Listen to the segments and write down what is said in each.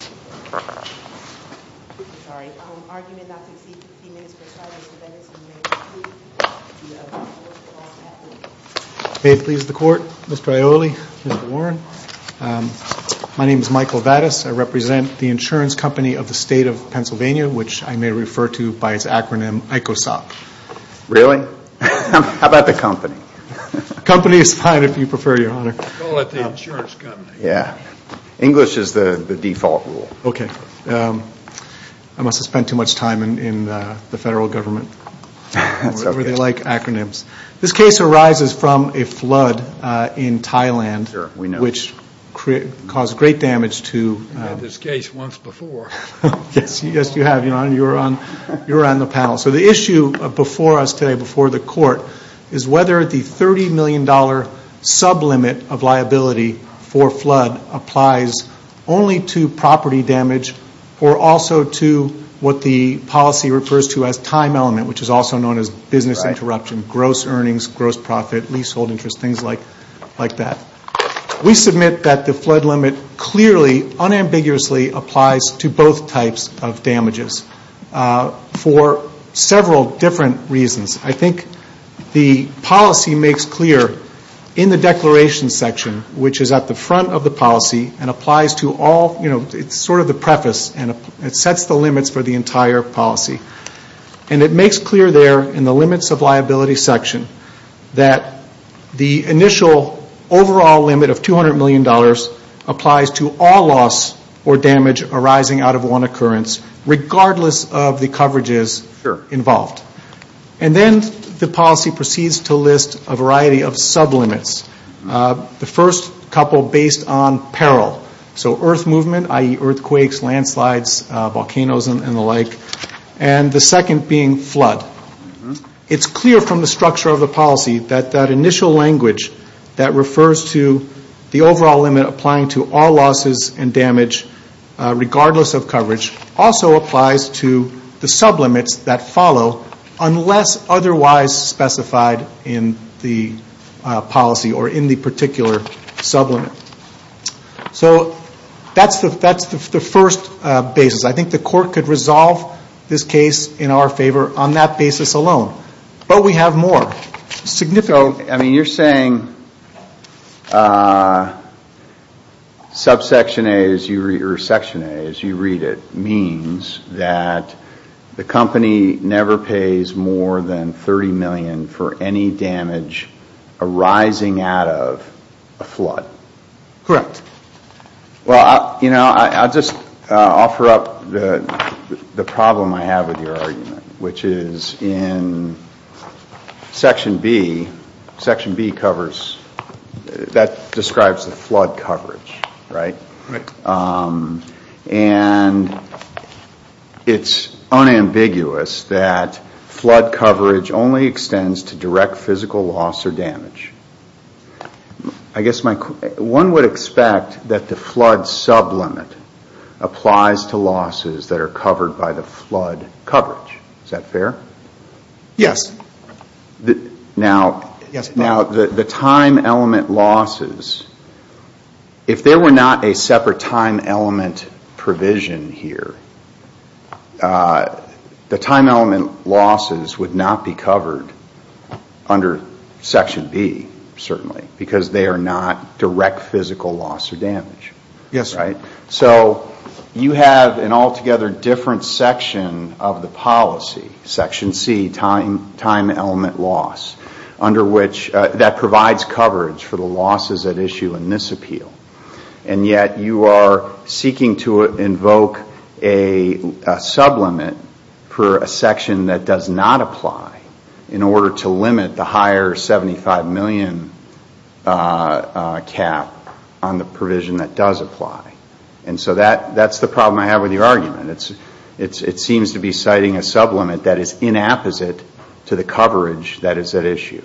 May it please the Court, Mr. Aioli, Mr. Warren. My name is Michael Vadas. I represent the insurance company of the State of Pennsylvania, which I may refer to by its acronym, ICOSOC. Really? How about the company? The company is fine if you prefer, Your Honor. Yeah. English is the default rule. Okay. I must have spent too much time in the federal government. That's okay. They like acronyms. This case arises from a flood in Thailand. Sure, we know. Which caused great damage to... I've had this case once before. Yes, you have, Your Honor. You're on the panel. So the issue before us today, before the court, is whether the $30 million sublimit of liability for flood applies only to property damage or also to what the policy refers to as time element, which is also known as business interruption, gross earnings, gross profit, leasehold interest, things like that. We submit that the flood limit clearly, unambiguously applies to both types of damages for several different reasons. I think the policy makes clear in the declaration section, which is at the front of the policy and applies to all, you know, it's sort of the preface and it sets the limits for the entire policy. And it makes clear there in the limits of liability section that the initial overall limit of $200 million applies to all loss or damage, regardless of the coverages involved. And then the policy proceeds to list a variety of sublimits. The first couple based on peril. So earth movement, i.e. earthquakes, landslides, volcanoes and the like. And the second being flood. It's clear from the structure of the policy that that initial language that refers to the overall limit applying to all losses and damage, regardless of coverage, also applies to the sublimits that follow, unless otherwise specified in the policy or in the particular sublimit. So that's the first basis. I think the court could resolve this case in our favor on that basis alone. But we have more. I mean, you're saying subsection A, or section A as you read it, means that the company never pays more than $30 million for any damage arising out of a flood. Correct. Well, you know, I'll just offer up the problem I have with your argument, which is in section B, section B covers, that describes the flood coverage, right? And it's unambiguous that flood coverage only extends to direct physical loss or direct physical damage. So you would expect that the flood sublimit applies to losses that are covered by the flood coverage. Is that fair? Yes. Now, the time element losses, if there were not a separate time element provision here, the time element losses would not be Yes. Right? So you have an altogether different section of the policy, section C, time element loss, under which that provides coverage for the losses at issue in this appeal. And yet you are seeking to invoke a sublimit for a section that does not apply in order to limit the higher $75 million cap on the provision that does apply. And so that's the problem I have with your argument. It seems to be citing a sublimit that is inapposite to the coverage that is at issue.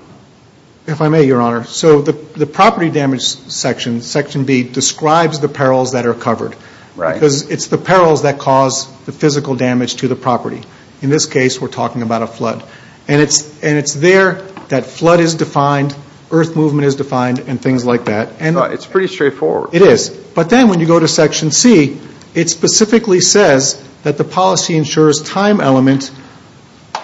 If I may, Your Honor, so the property damage section, section B, describes the perils that are covered. Right. Because it's the perils that cause the physical damage to the property. In this case, we're talking about a flood. And it's there that flood is defined, earth movement is defined, and things like that. It's pretty straightforward. It is. But then when you go to section C, it specifically says that the policy ensures time element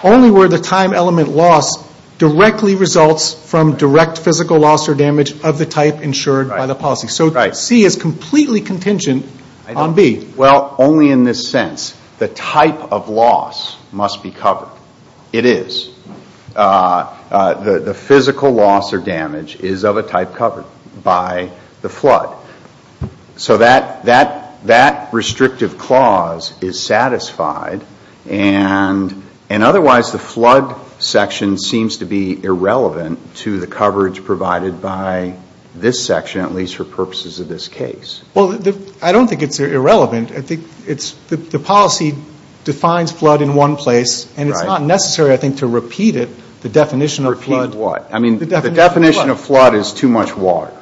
only where the time element loss directly results from direct physical loss or damage of the type insured by the policy. So C is completely contingent on B. Well, only in this sense. The type of loss must be covered. It is. The physical loss or damage is of a type covered by the flood. So that restrictive clause is satisfied. And otherwise, the flood section seems to be irrelevant to the coverage provided by this section, at least for purposes of this case. Well, I don't think it's irrelevant. I think it's the policy defines flood in one place. And it's not necessary, I think, to repeat it, the definition of flood. Repeat what? I mean, the definition of flood is too much water.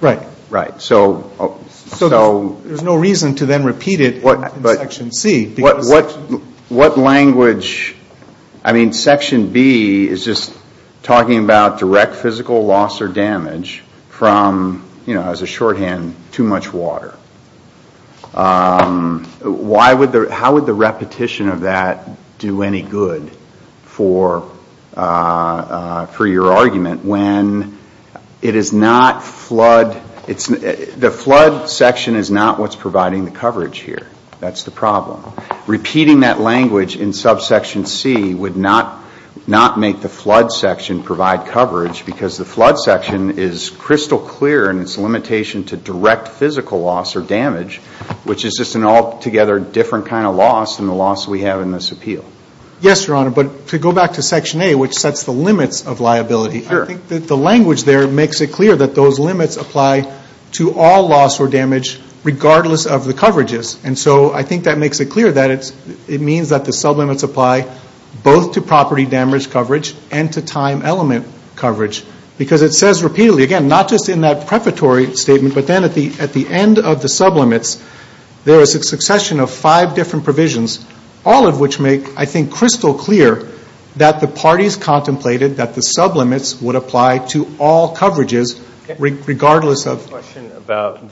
Right. Right. So. So there's no reason to then repeat it in section C. What language, I mean, section B is just talking about direct physical loss or damage from, you know, as a shorthand, too much water. How would the repetition of that do any good for your argument when it is not flood, the flood section is not what's providing the coverage here? That's the problem. Repeating that language in subsection C would not make the flood section provide coverage because the flood section is crystal clear in its limitation to direct physical loss or damage, which is just an altogether different kind of loss than the loss we have in this appeal. Yes, Your Honor. But to go back to section A, which sets the limits of liability, I think that the language there makes it clear that those And so I think that makes it clear that it means that the sublimits apply both to property damage coverage and to time element coverage. Because it says repeatedly, again, not just in that prefatory statement, but then at the end of the sublimits, there is a succession of five different provisions, all of which make, I think, crystal clear that the parties contemplated that the sublimits would apply to all coverages regardless of. I have a question about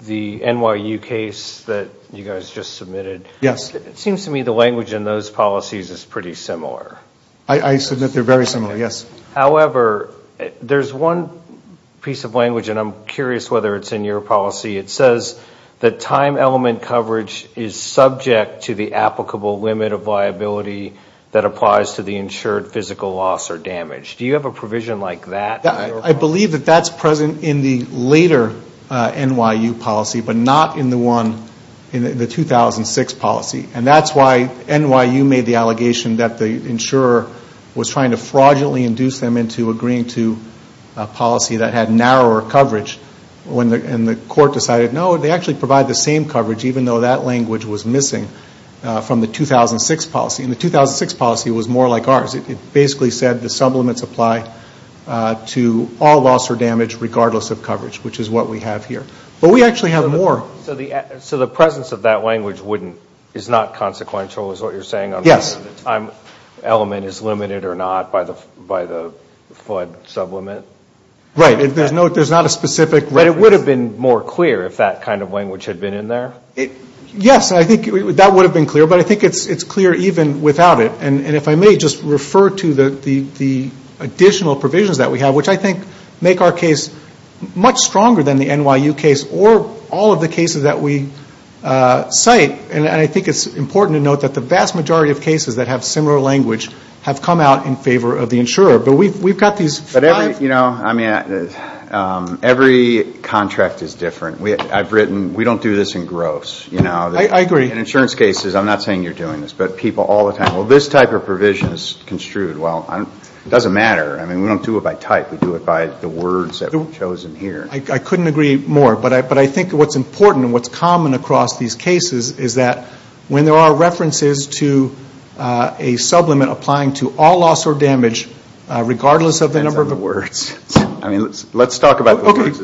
the NYU case that you guys just submitted. Yes. It seems to me the language in those policies is pretty similar. I submit they're very similar, yes. However, there's one piece of language, and I'm curious whether it's in your policy. It says that time element coverage is subject to the applicable limit of liability that applies to the insured physical loss or damage. Do you have a provision like that? I believe that that's present in the later NYU policy, but not in the 2006 policy. And that's why NYU made the allegation that the insurer was trying to fraudulently induce them into agreeing to a policy that had narrower coverage, and the court decided, no, they actually provide the same coverage, even though that language was missing from the 2006 policy. And the 2006 policy was more like ours. It basically said the sublimits apply to all loss or damage regardless of coverage, which is what we have here. But we actually have more. So the presence of that language is not consequential, is what you're saying? Yes. The time element is limited or not by the FUD sublimit? Right. There's not a specific reference. But it would have been more clear if that kind of language had been in there? Yes. I think that would have been clear. But I think it's clear even without it. And if I may just refer to the additional provisions that we have, which I think make our case much stronger than the NYU case, or all of the cases that we cite. And I think it's important to note that the vast majority of cases that have similar language have come out in favor of the insurer. But we've got these five... But every, you know, I mean, every contract is different. I've written, we don't do this in gross. I agree. In insurance cases, I'm not saying you're doing this, but people all the time, well, this type of provision is construed. Well, it doesn't matter. I mean, we don't do it by type. We do it by the words that are chosen here. I couldn't agree more. But I think what's important and what's common across these cases is that when there are references to a sublimit applying to all loss or damage, regardless of the number of... That's other words. I mean, let's talk about other words.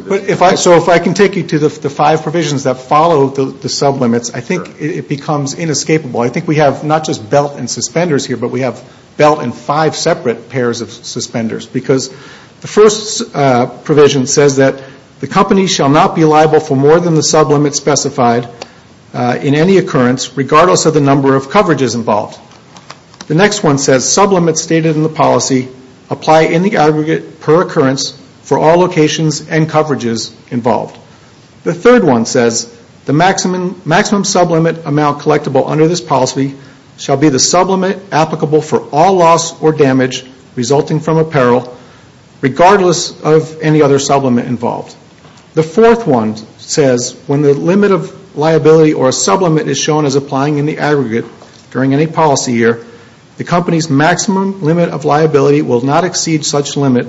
So if I can take you to the five provisions that follow the sublimits, I think it becomes inescapable. I think we have not just belt and suspenders here, but we have belt and five separate pairs of suspenders. Because the first provision says that the company shall not be liable for more than the sublimit specified in any occurrence, regardless of the number of coverages involved. The next one says sublimits stated in the policy apply in the aggregate per occurrence for all locations and coverages involved. The third one says the maximum sublimit amount collectible under this policy shall be the sublimit applicable for all loss or damage resulting from apparel, regardless of any other sublimit involved. The fourth one says when the limit of liability or a sublimit is shown as applying in the aggregate during any policy year, the company's maximum limit of liability will not exceed such limit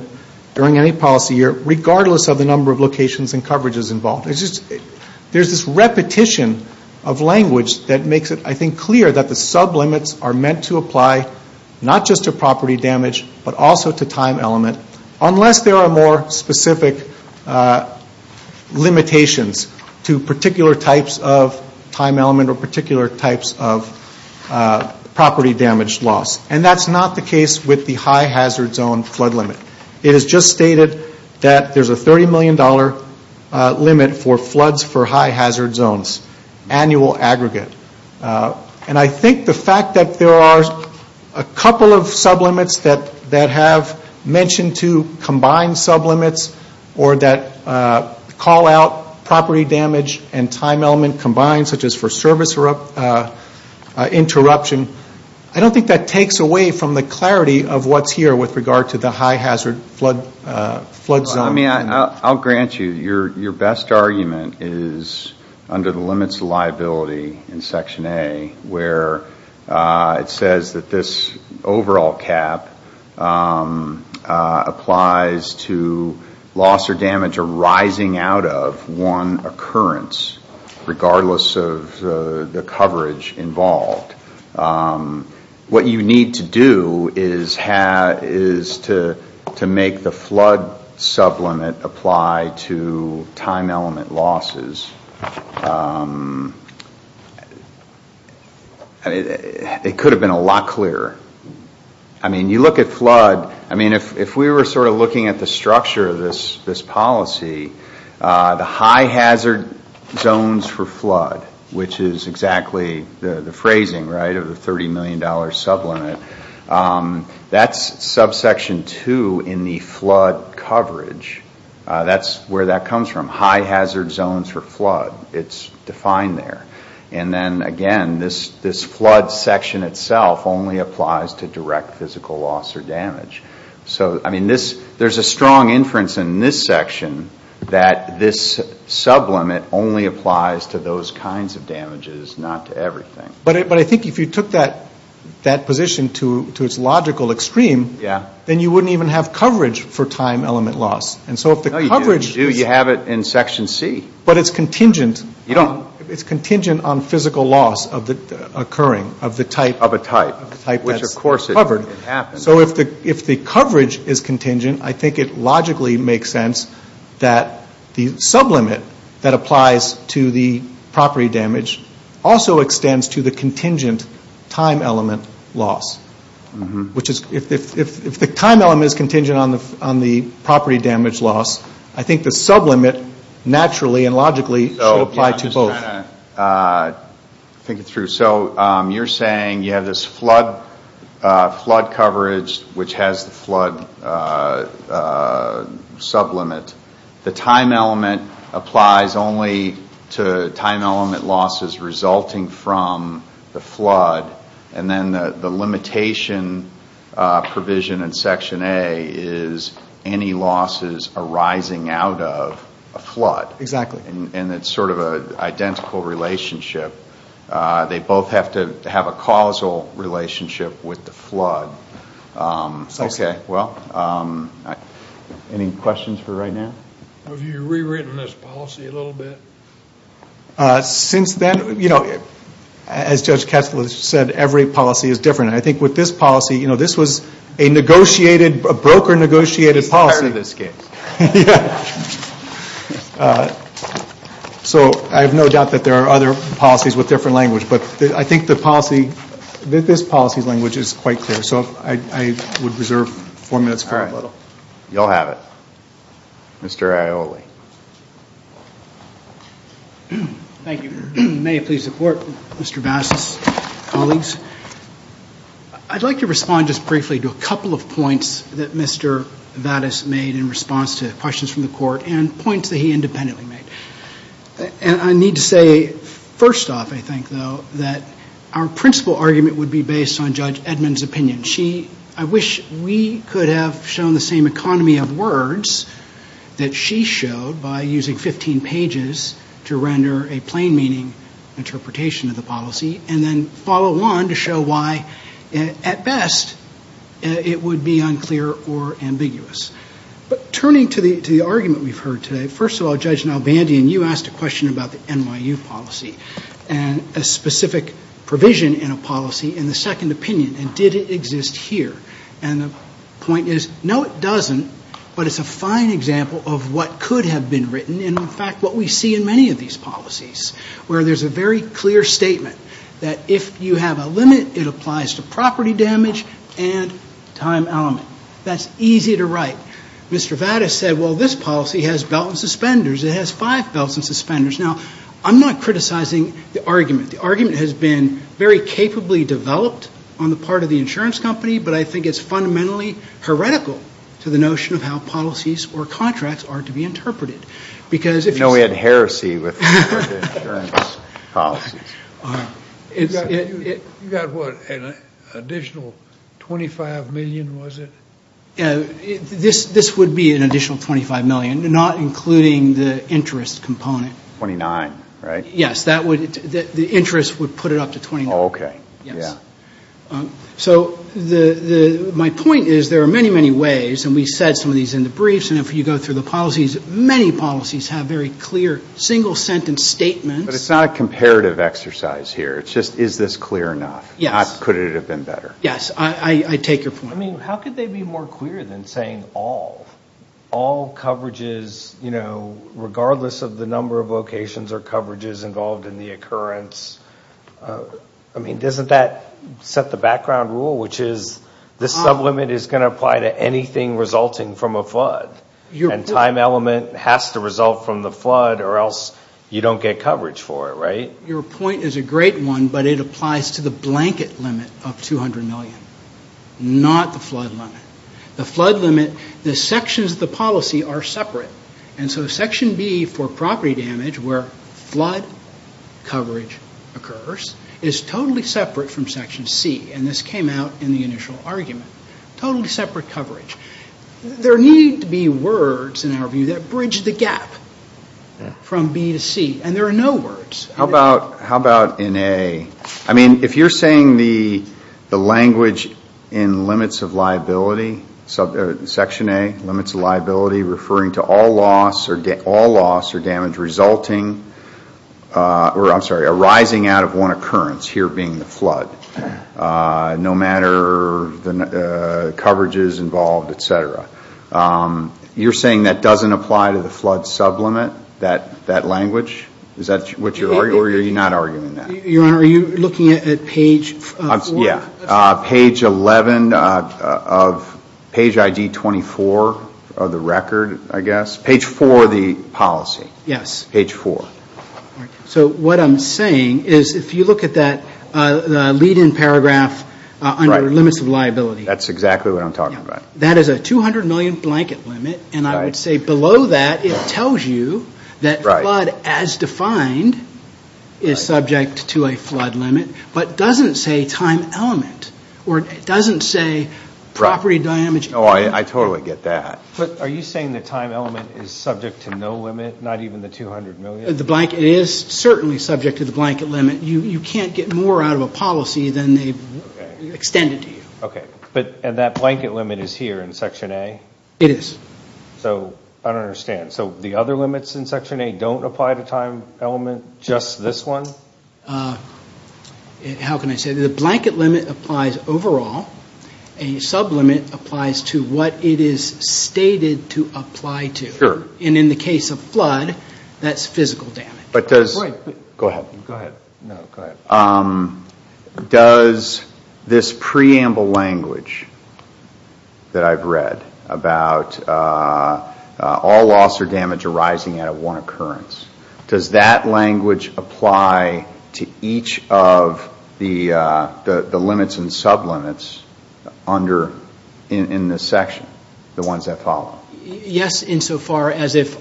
during any policy year, regardless of the number of locations and coverages involved. There's this repetition of language that makes it, I think, clear that the sublimits are meant to apply not just to property damage, but also to time element, unless there are more specific limitations to particular types of time element or particular types of property damage loss. And that's not the case with the high hazard zone flood limit. It is just stated that there's a $30 million limit for floods for high hazard zones, annual aggregate. And I think the fact that there are a couple of sublimits that have mentioned to combine sublimits or that call out property damage and time element combined, such as for service interruption, I don't think that takes away from the clarity of what's here with regard to the high hazard flood zone. I'll grant you your best argument is under the limits of liability in Section A, where it says that this overall cap applies to loss or damage arising out of one occurrence, regardless of the coverage involved. What you need to do is to make the flood sublimit apply to time element losses. It could have been a lot clearer. I mean, you look at flood, if we were sort of looking at the structure of this policy, the high hazard zones for flood, which is exactly the phrasing of the $30 million sublimit, that's subsection 2 in the flood coverage. That's where that comes from, high hazard zones for flood. It's defined there. And then again, this flood section itself only applies to direct physical loss or damage. There's a strong inference in this section that this sublimit only applies to those kinds of damages, not to everything. But I think if you took that position to its logical extreme, then you wouldn't even have coverage for time element loss. No, you do. You have it in Section C. But it's contingent on physical loss occurring of the type that's covered. Of a type, which of course it happens. So if the coverage is contingent, I think it logically makes sense that the sublimit that applies to the property damage also extends to the contingent time element loss. Which is, if the time element is contingent on the property damage loss, I think the sublimit naturally and logically should apply to both. So you're saying you have this flood coverage, which has the flood sublimit. The time element applies only to time element losses resulting from the flood. And then the limitation provision in Section A is any losses arising out of a flood. Exactly. And it's sort of an identical relationship. They both have to have a causal relationship with the flood. Okay, well, any questions for right now? Have you rewritten this policy a little bit? Since then, as Judge Kessler said, every policy is different. I think with this policy, this was a broker negotiated policy. Yeah. So I have no doubt that there are other policies with different language. But I think the policy, this policy language is quite clear. So I would reserve four minutes for a little. All right. You'll have it. Mr. Aioli. Thank you. May I please support Mr. Vadas' colleagues? I'd like to respond just briefly to a couple of points that Mr. Vadas made in response to questions from the Court and points that he independently made. And I need to say, first off, I think, though, that our principal argument would be based on Judge Edmund's opinion. I wish we could have shown the same economy of words that she showed by using 15 pages to render a plain meaning interpretation of the policy and then follow on to show why, at best, it would be unclear or ambiguous. But turning to the argument we've heard today, first of all, Judge Nalbandian, you asked a question about the NYU policy and a specific provision in a policy in the second opinion. And did it exist here? And the point is, no, it doesn't. But it's a fine example of what could have been written and, in fact, what we see in many of these policies, where there's a very clear statement that if you have a limit, it applies to property damage and time element. That's easy to write. Mr. Vadas said, well, this policy has belt and suspenders. It has five belts and suspenders. Now, I'm not criticizing the argument. The argument has been very capably developed on the part of the insurance company, but I think it's fundamentally heretical to the notion of how policies or contracts are to be interpreted. No, we had heresy with the insurance policies. You got what? An additional $25 million, was it? This would be an additional $25 million, not including the interest component. $29, right? Yes, the interest would put it up to $29. Oh, okay. Yes. So my point is there are many, many ways, and we said some of these in the briefs, and if you go through the policies, many policies have very clear single-sentence statements. But it's not a comparative exercise here. It's just, is this clear enough? Yes. Could it have been better? Yes, I take your point. I mean, how could they be more clear than saying all? All coverages, you know, regardless of the number of locations or coverages involved in the occurrence. I mean, doesn't that set the background rule, which is this sublimit is going to apply to anything resulting from a flood, and time element has to result from the flood or else you don't get coverage for it, right? Your point is a great one, but it applies to the blanket limit of $200 million, not the flood limit. The flood limit, the sections of the policy are separate, and so Section B for property damage where flood coverage occurs is totally separate from Section C, and this came out in the initial argument, totally separate coverage. There need to be words, in our view, that bridge the gap from B to C, and there are no words. How about in A? I mean, if you're saying the language in limits of liability, Section A, limits of liability, referring to all loss or damage resulting or, I'm sorry, arising out of one occurrence, here being the flood, no matter the coverages involved, et cetera. You're saying that doesn't apply to the flood sublimit, that language? Is that what you're arguing, or are you not arguing that? Your Honor, are you looking at page 4? Yeah, page 11 of page ID 24 of the record, I guess. Page 4 of the policy. Yes. Page 4. So what I'm saying is if you look at that lead-in paragraph under limits of liability. That's exactly what I'm talking about. That is a $200 million blanket limit, and I would say below that it tells you that flood as defined is subject to a flood limit, but doesn't say time element or doesn't say property damage. Oh, I totally get that. But are you saying the time element is subject to no limit, not even the $200 million? The blanket is certainly subject to the blanket limit. You can't get more out of a policy than they've extended to you. Okay. And that blanket limit is here in Section A? It is. So I don't understand. So the other limits in Section A don't apply to time element, just this one? How can I say? The blanket limit applies overall. A sublimit applies to what it is stated to apply to. Sure. And in the case of flood, that's physical damage. Go ahead. Go ahead. No, go ahead. Does this preamble language that I've read about all loss or damage arising out of one occurrence, does that language apply to each of the limits and sublimits in this section, the ones that follow? Yes, insofar as if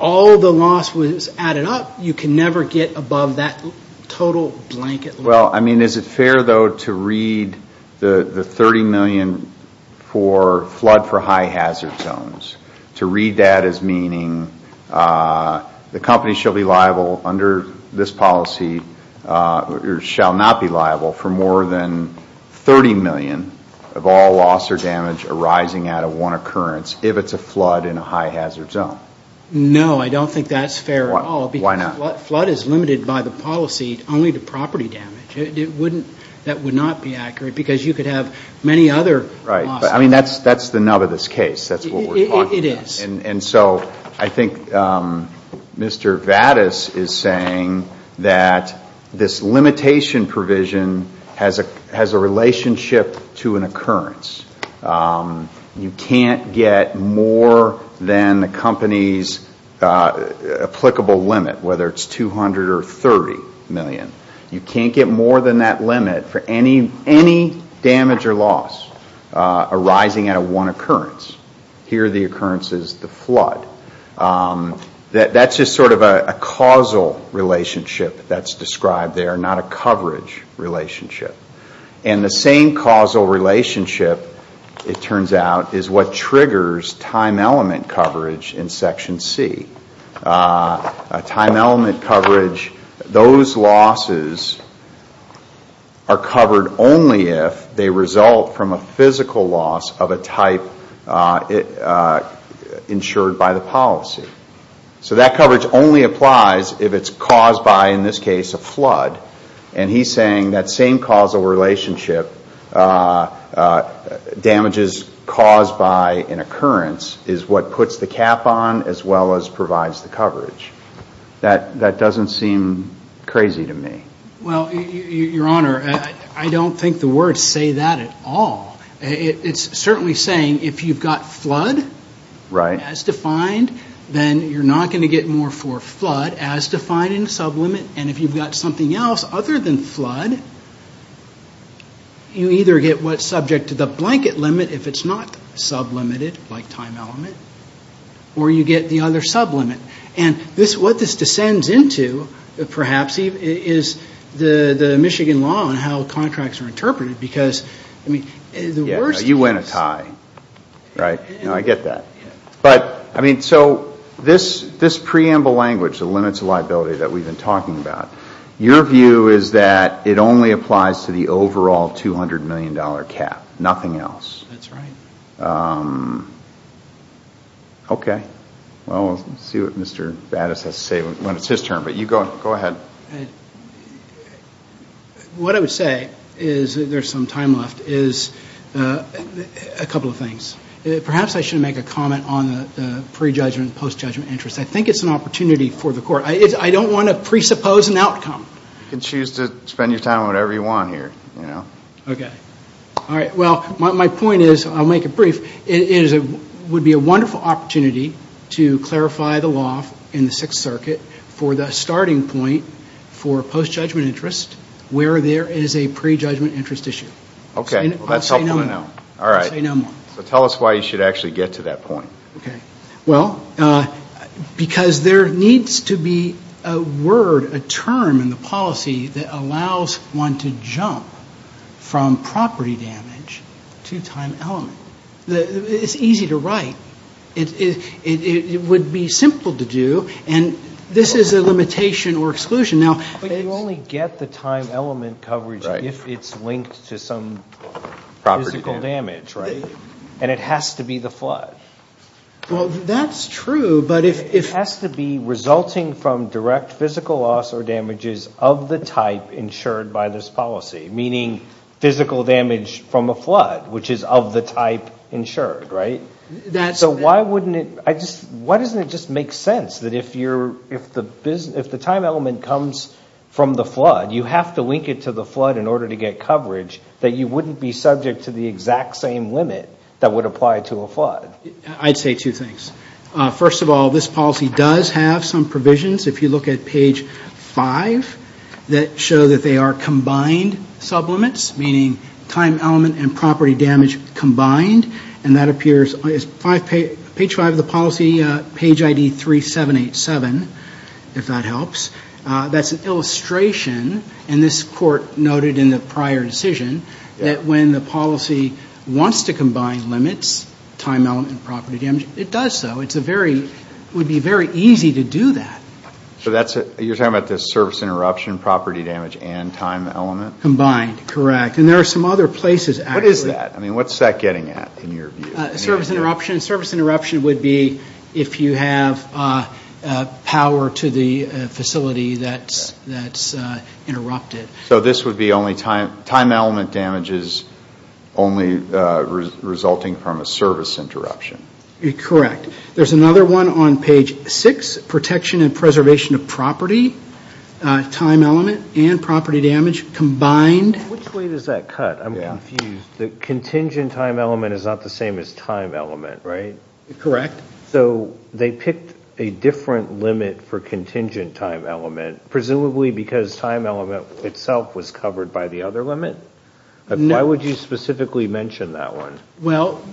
all the loss was added up, you can never get above that total blanket limit. Well, I mean, is it fair, though, to read the $30 million for flood for high hazard zones, to read that as meaning the company shall be liable under this policy, or shall not be liable for more than $30 million of all loss or damage arising out of one occurrence if it's a flood in a high hazard zone? No, I don't think that's fair at all. Why not? Because flood is limited by the policy only to property damage. That would not be accurate because you could have many other losses. Right. I mean, that's the nub of this case. That's what we're talking about. It is. And so I think Mr. Vadas is saying that this limitation provision has a relationship to an occurrence. You can't get more than the company's applicable limit, whether it's $200 million or $30 million. You can't get more than that limit for any damage or loss arising out of one occurrence. Here the occurrence is the flood. That's just sort of a causal relationship that's described there, not a coverage relationship. And the same causal relationship, it turns out, is what triggers time element coverage in Section C. Time element coverage, those losses are covered only if they result from a physical loss of a type insured by the policy. So that coverage only applies if it's caused by, in this case, a flood. And he's saying that same causal relationship, damages caused by an occurrence, is what puts the cap on as well as provides the coverage. That doesn't seem crazy to me. Well, Your Honor, I don't think the words say that at all. It's certainly saying if you've got flood as defined, then you're not going to get more for flood as defined in sublimit. And if you've got something else other than flood, you either get what's subject to the blanket limit if it's not sublimited, like time element, or you get the other sublimit. And what this descends into, perhaps, is the Michigan law and how contracts are interpreted. Because, I mean, the worst case... You win a tie, right? I get that. But, I mean, so this preamble language, the limits of liability that we've been talking about, your view is that it only applies to the overall $200 million cap, nothing else. That's right. Okay. Well, we'll see what Mr. Battis has to say when it's his turn. But you go ahead. What I would say is, there's some time left, is a couple of things. Perhaps I should make a comment on the prejudgment, post-judgment interest. I think it's an opportunity for the Court. I don't want to presuppose an outcome. You can choose to spend your time on whatever you want here, you know. Okay. All right. Well, my point is, I'll make it brief, it would be a wonderful opportunity to clarify the law in the Sixth Circuit for the starting point for post-judgment interest where there is a prejudgment interest issue. Okay. I'll say no more. All right. I'll say no more. So tell us why you should actually get to that point. Okay. Well, because there needs to be a word, a term in the policy that allows one to jump from property damage to time element. It's easy to write. It would be simple to do. And this is a limitation or exclusion. But you only get the time element coverage if it's linked to some physical damage, right? Well, that's true, but if... It has to be resulting from direct physical loss or damages of the type insured by this policy, meaning physical damage from a flood, which is of the type insured, right? That's... So why wouldn't it... Why doesn't it just make sense that if the time element comes from the flood, you have to link it to the flood in order to get coverage, that you wouldn't be subject to the exact same limit that would apply to a flood? I'd say two things. First of all, this policy does have some provisions. If you look at page 5, that show that they are combined sublimits, meaning time element and property damage combined. And that appears... Page 5 of the policy, page ID 3787, if that helps. That's an illustration, and this court noted in the prior decision, that when the policy wants to combine limits, time element and property damage, it does so. It's a very... It would be very easy to do that. So that's... You're talking about the service interruption, property damage, and time element? Combined, correct. And there are some other places, actually. What is that? I mean, what's that getting at in your view? Service interruption. Service interruption would be if you have power to the facility that's interrupted. So this would be only time element damages only resulting from a service interruption? Correct. There's another one on page 6, protection and preservation of property, time element and property damage combined. Which way does that cut? I'm confused. The contingent time element is not the same as time element, right? Correct. So they picked a different limit for contingent time element, presumably because time element itself was covered by the other limit? No. Why would you specifically mention that one? Well,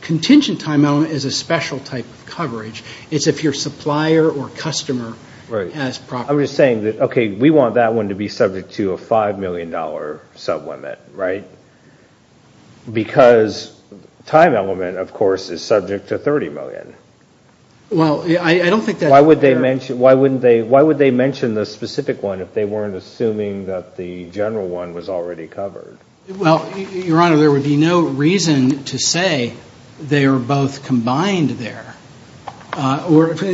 contingent time element is a special type of coverage. It's if your supplier or customer has property damage. Because time element, of course, is subject to 30 million. Well, I don't think that's fair. Why would they mention the specific one if they weren't assuming that the general one was already covered? Well, Your Honor, there would be no reason to say they are both combined there. The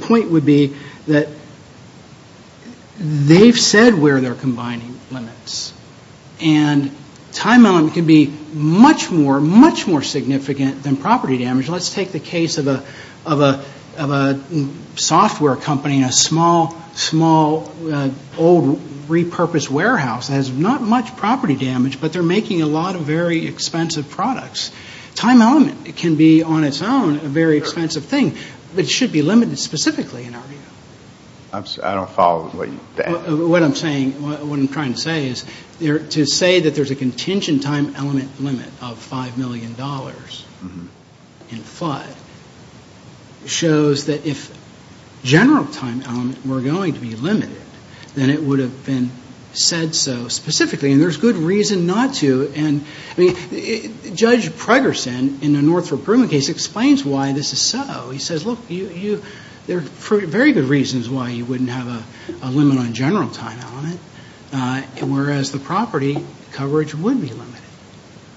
point would be that they've said where they're combining limits. And time element can be much more, much more significant than property damage. Let's take the case of a software company, a small, small, old repurposed warehouse that has not much property damage, but they're making a lot of very expensive products. Time element can be on its own a very expensive thing. It should be limited specifically in our view. I don't follow what you've said. What I'm saying, what I'm trying to say is to say that there's a contingent time element limit of $5 million in FUD shows that if general time element were going to be limited, then it would have been said so specifically. And there's good reason not to. And, I mean, Judge Pregerson in the Northrop Grumman case explains why this is so. He says, look, there are very good reasons why you wouldn't have a limit on general time element, whereas the property coverage would be limited.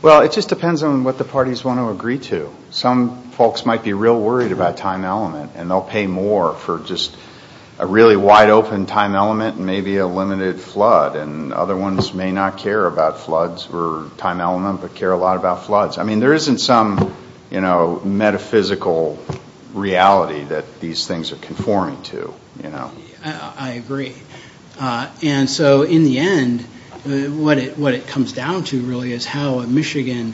Well, it just depends on what the parties want to agree to. Some folks might be real worried about time element, and they'll pay more for just a really wide open time element and maybe a limited flood. And other ones may not care about floods or time element, but care a lot about floods. I mean, there isn't some, you know, metaphysical reality that these things are conforming to, you know. I agree. And so in the end, what it comes down to really is how a Michigan,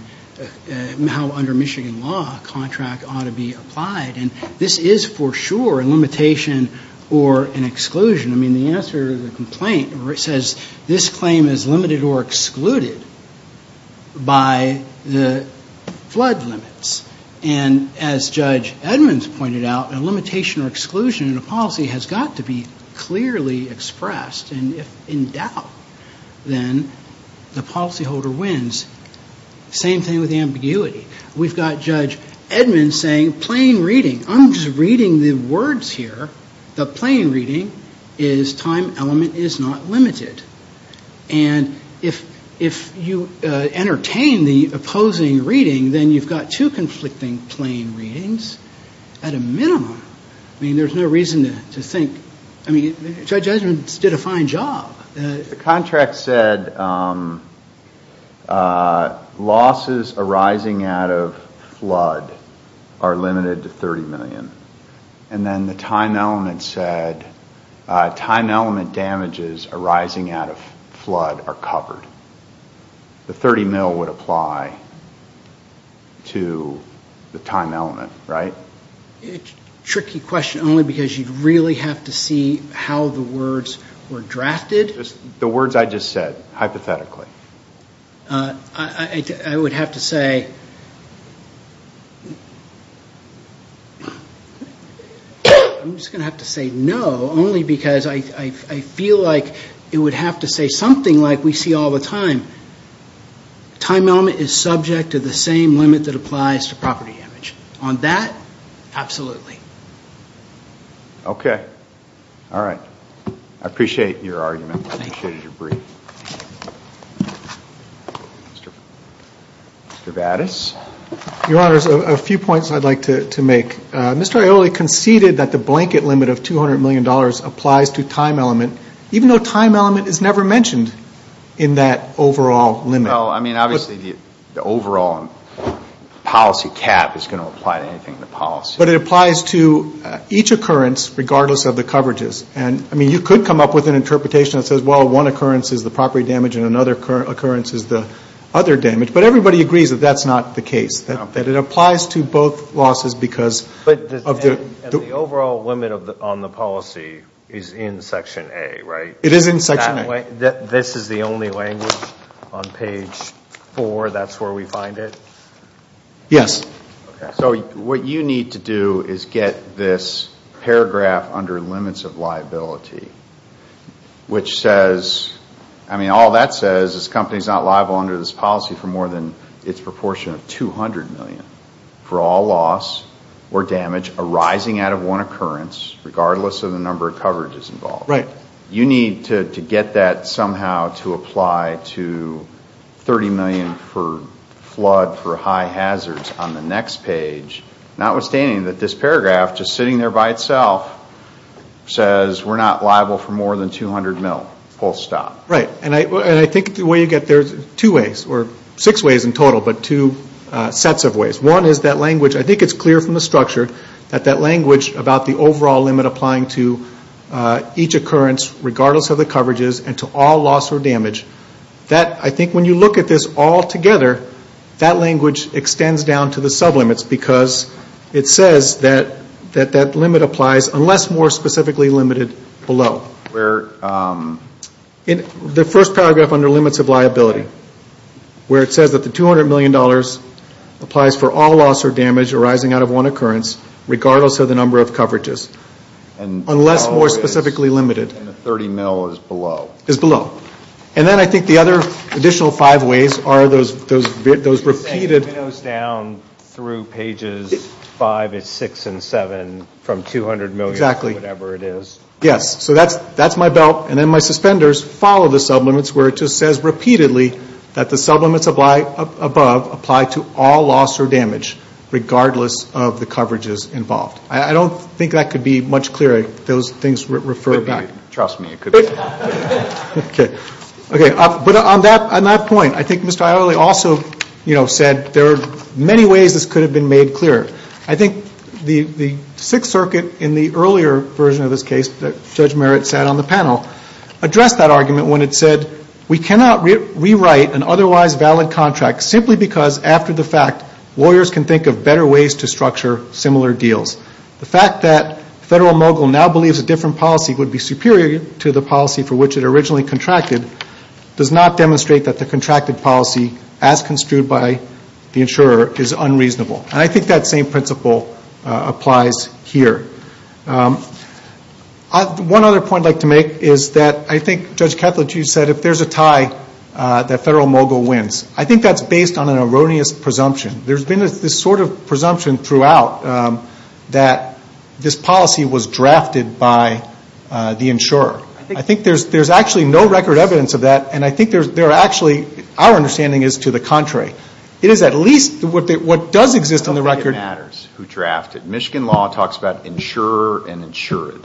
how under Michigan law, a contract ought to be applied. And this is for sure a limitation or an exclusion. I mean, the answer to the complaint says this claim is limited or excluded by the flood limits. And as Judge Edmonds pointed out, a limitation or exclusion in a policy has got to be clearly expressed. And if in doubt, then the policyholder wins. Same thing with ambiguity. We've got Judge Edmonds saying plain reading. I'm just reading the words here. The plain reading is time element is not limited. And if you entertain the opposing reading, then you've got two conflicting plain readings at a minimum. I mean, there's no reason to think. I mean, Judge Edmonds did a fine job. The contract said losses arising out of flood are limited to 30 million. And then the time element said time element damages arising out of flood are covered. The 30 mil would apply to the time element, right? It's a tricky question only because you really have to see how the words were drafted. The words I just said, hypothetically. I would have to say, I'm just going to have to say no, only because I feel like it would have to say something like we see all the time. Time element is subject to the same limit that applies to property damage. On that, absolutely. Okay. All right. I appreciate your argument. I appreciated your brief. Thank you. Mr. Vadas. Your Honors, a few points I'd like to make. Mr. Aioli conceded that the blanket limit of $200 million applies to time element, even though time element is never mentioned in that overall limit. No, I mean, obviously the overall policy cap is going to apply to anything in the policy. But it applies to each occurrence, regardless of the coverages. I mean, you could come up with an interpretation that says, well, one occurrence is the property damage and another occurrence is the other damage. But everybody agrees that that's not the case, that it applies to both losses because of the... But the overall limit on the policy is in Section A, right? It is in Section A. This is the only language on page 4? That's where we find it? Yes. Okay. So what you need to do is get this paragraph under limits of liability, which says, I mean, all that says is the company is not liable under this policy for more than its proportion of $200 million for all loss or damage arising out of one occurrence, regardless of the number of coverages involved. Right. You need to get that somehow to apply to $30 million for flood for high hazards on the next page, notwithstanding that this paragraph, just sitting there by itself, says we're not liable for more than $200 million. Full stop. Right. And I think the way you get there is two ways, or six ways in total, but two sets of ways. One is that language, I think it's clear from the structure, that that language about the overall limit applying to each occurrence, regardless of the coverages, and to all loss or damage, I think when you look at this all together, that language extends down to the sublimits because it says that that limit applies unless more specifically limited below. Where? The first paragraph under limits of liability, where it says that the $200 million applies for all loss or damage arising out of one occurrence, regardless of the number of coverages, unless more specifically limited. And $30 million is below. Is below. And then I think the other additional five ways are those repeated. You're saying it goes down through pages five and six and seven from $200 million to whatever it is. Exactly. Yes. So that's my belt. And then my suspenders follow the sublimits where it just says repeatedly that the sublimits above apply to all loss or damage, regardless of the coverages involved. I don't think that could be much clearer. Those things refer back. Trust me, it could be. Okay. Okay. But on that point, I think Mr. Ayole also, you know, said there are many ways this could have been made clearer. I think the Sixth Circuit in the earlier version of this case that Judge Merritt said on the panel, addressed that argument when it said we cannot rewrite an otherwise valid contract simply because after the fact, lawyers can think of better ways to structure similar deals. The fact that Federal Mogul now believes a different policy would be superior to the policy for which it originally contracted does not demonstrate that the contracted policy as construed by the insurer is unreasonable. And I think that same principle applies here. One other point I'd like to make is that I think Judge Kethledge, you said if there's a tie, that Federal Mogul wins. I think that's based on an erroneous presumption. There's been this sort of presumption throughout that this policy was drafted by the insurer. I think there's actually no record evidence of that, and I think there are actually, our understanding is to the contrary. It is at least what does exist on the record. It matters who drafted. Michigan law talks about insurer and insured.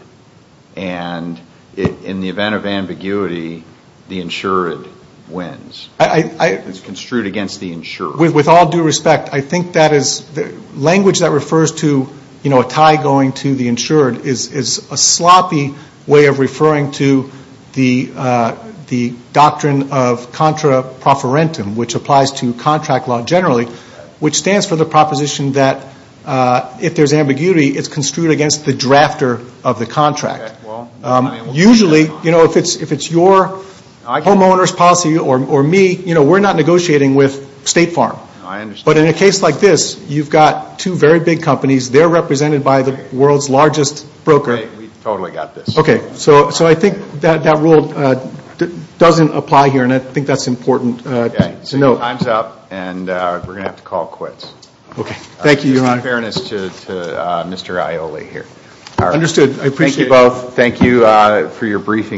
And in the event of ambiguity, the insured wins. It's construed against the insured. With all due respect, I think that is, language that refers to a tie going to the insured is a sloppy way of referring to the doctrine of contra profferentum, which applies to contract law generally, which stands for the proposition that if there's ambiguity, it's construed against the drafter of the contract. Usually, if it's your homeowner's policy or me, we're not negotiating with State Farm. But in a case like this, you've got two very big companies. They're represented by the world's largest broker. We totally got this. Okay. So I think that rule doesn't apply here, and I think that's important to note. Okay. So your time's up, and we're going to have to call quits. Okay. Thank you, Your Honor. Just in fairness to Mr. Aioli here. Understood. I appreciate it. Thank you both. Thank you for your briefing.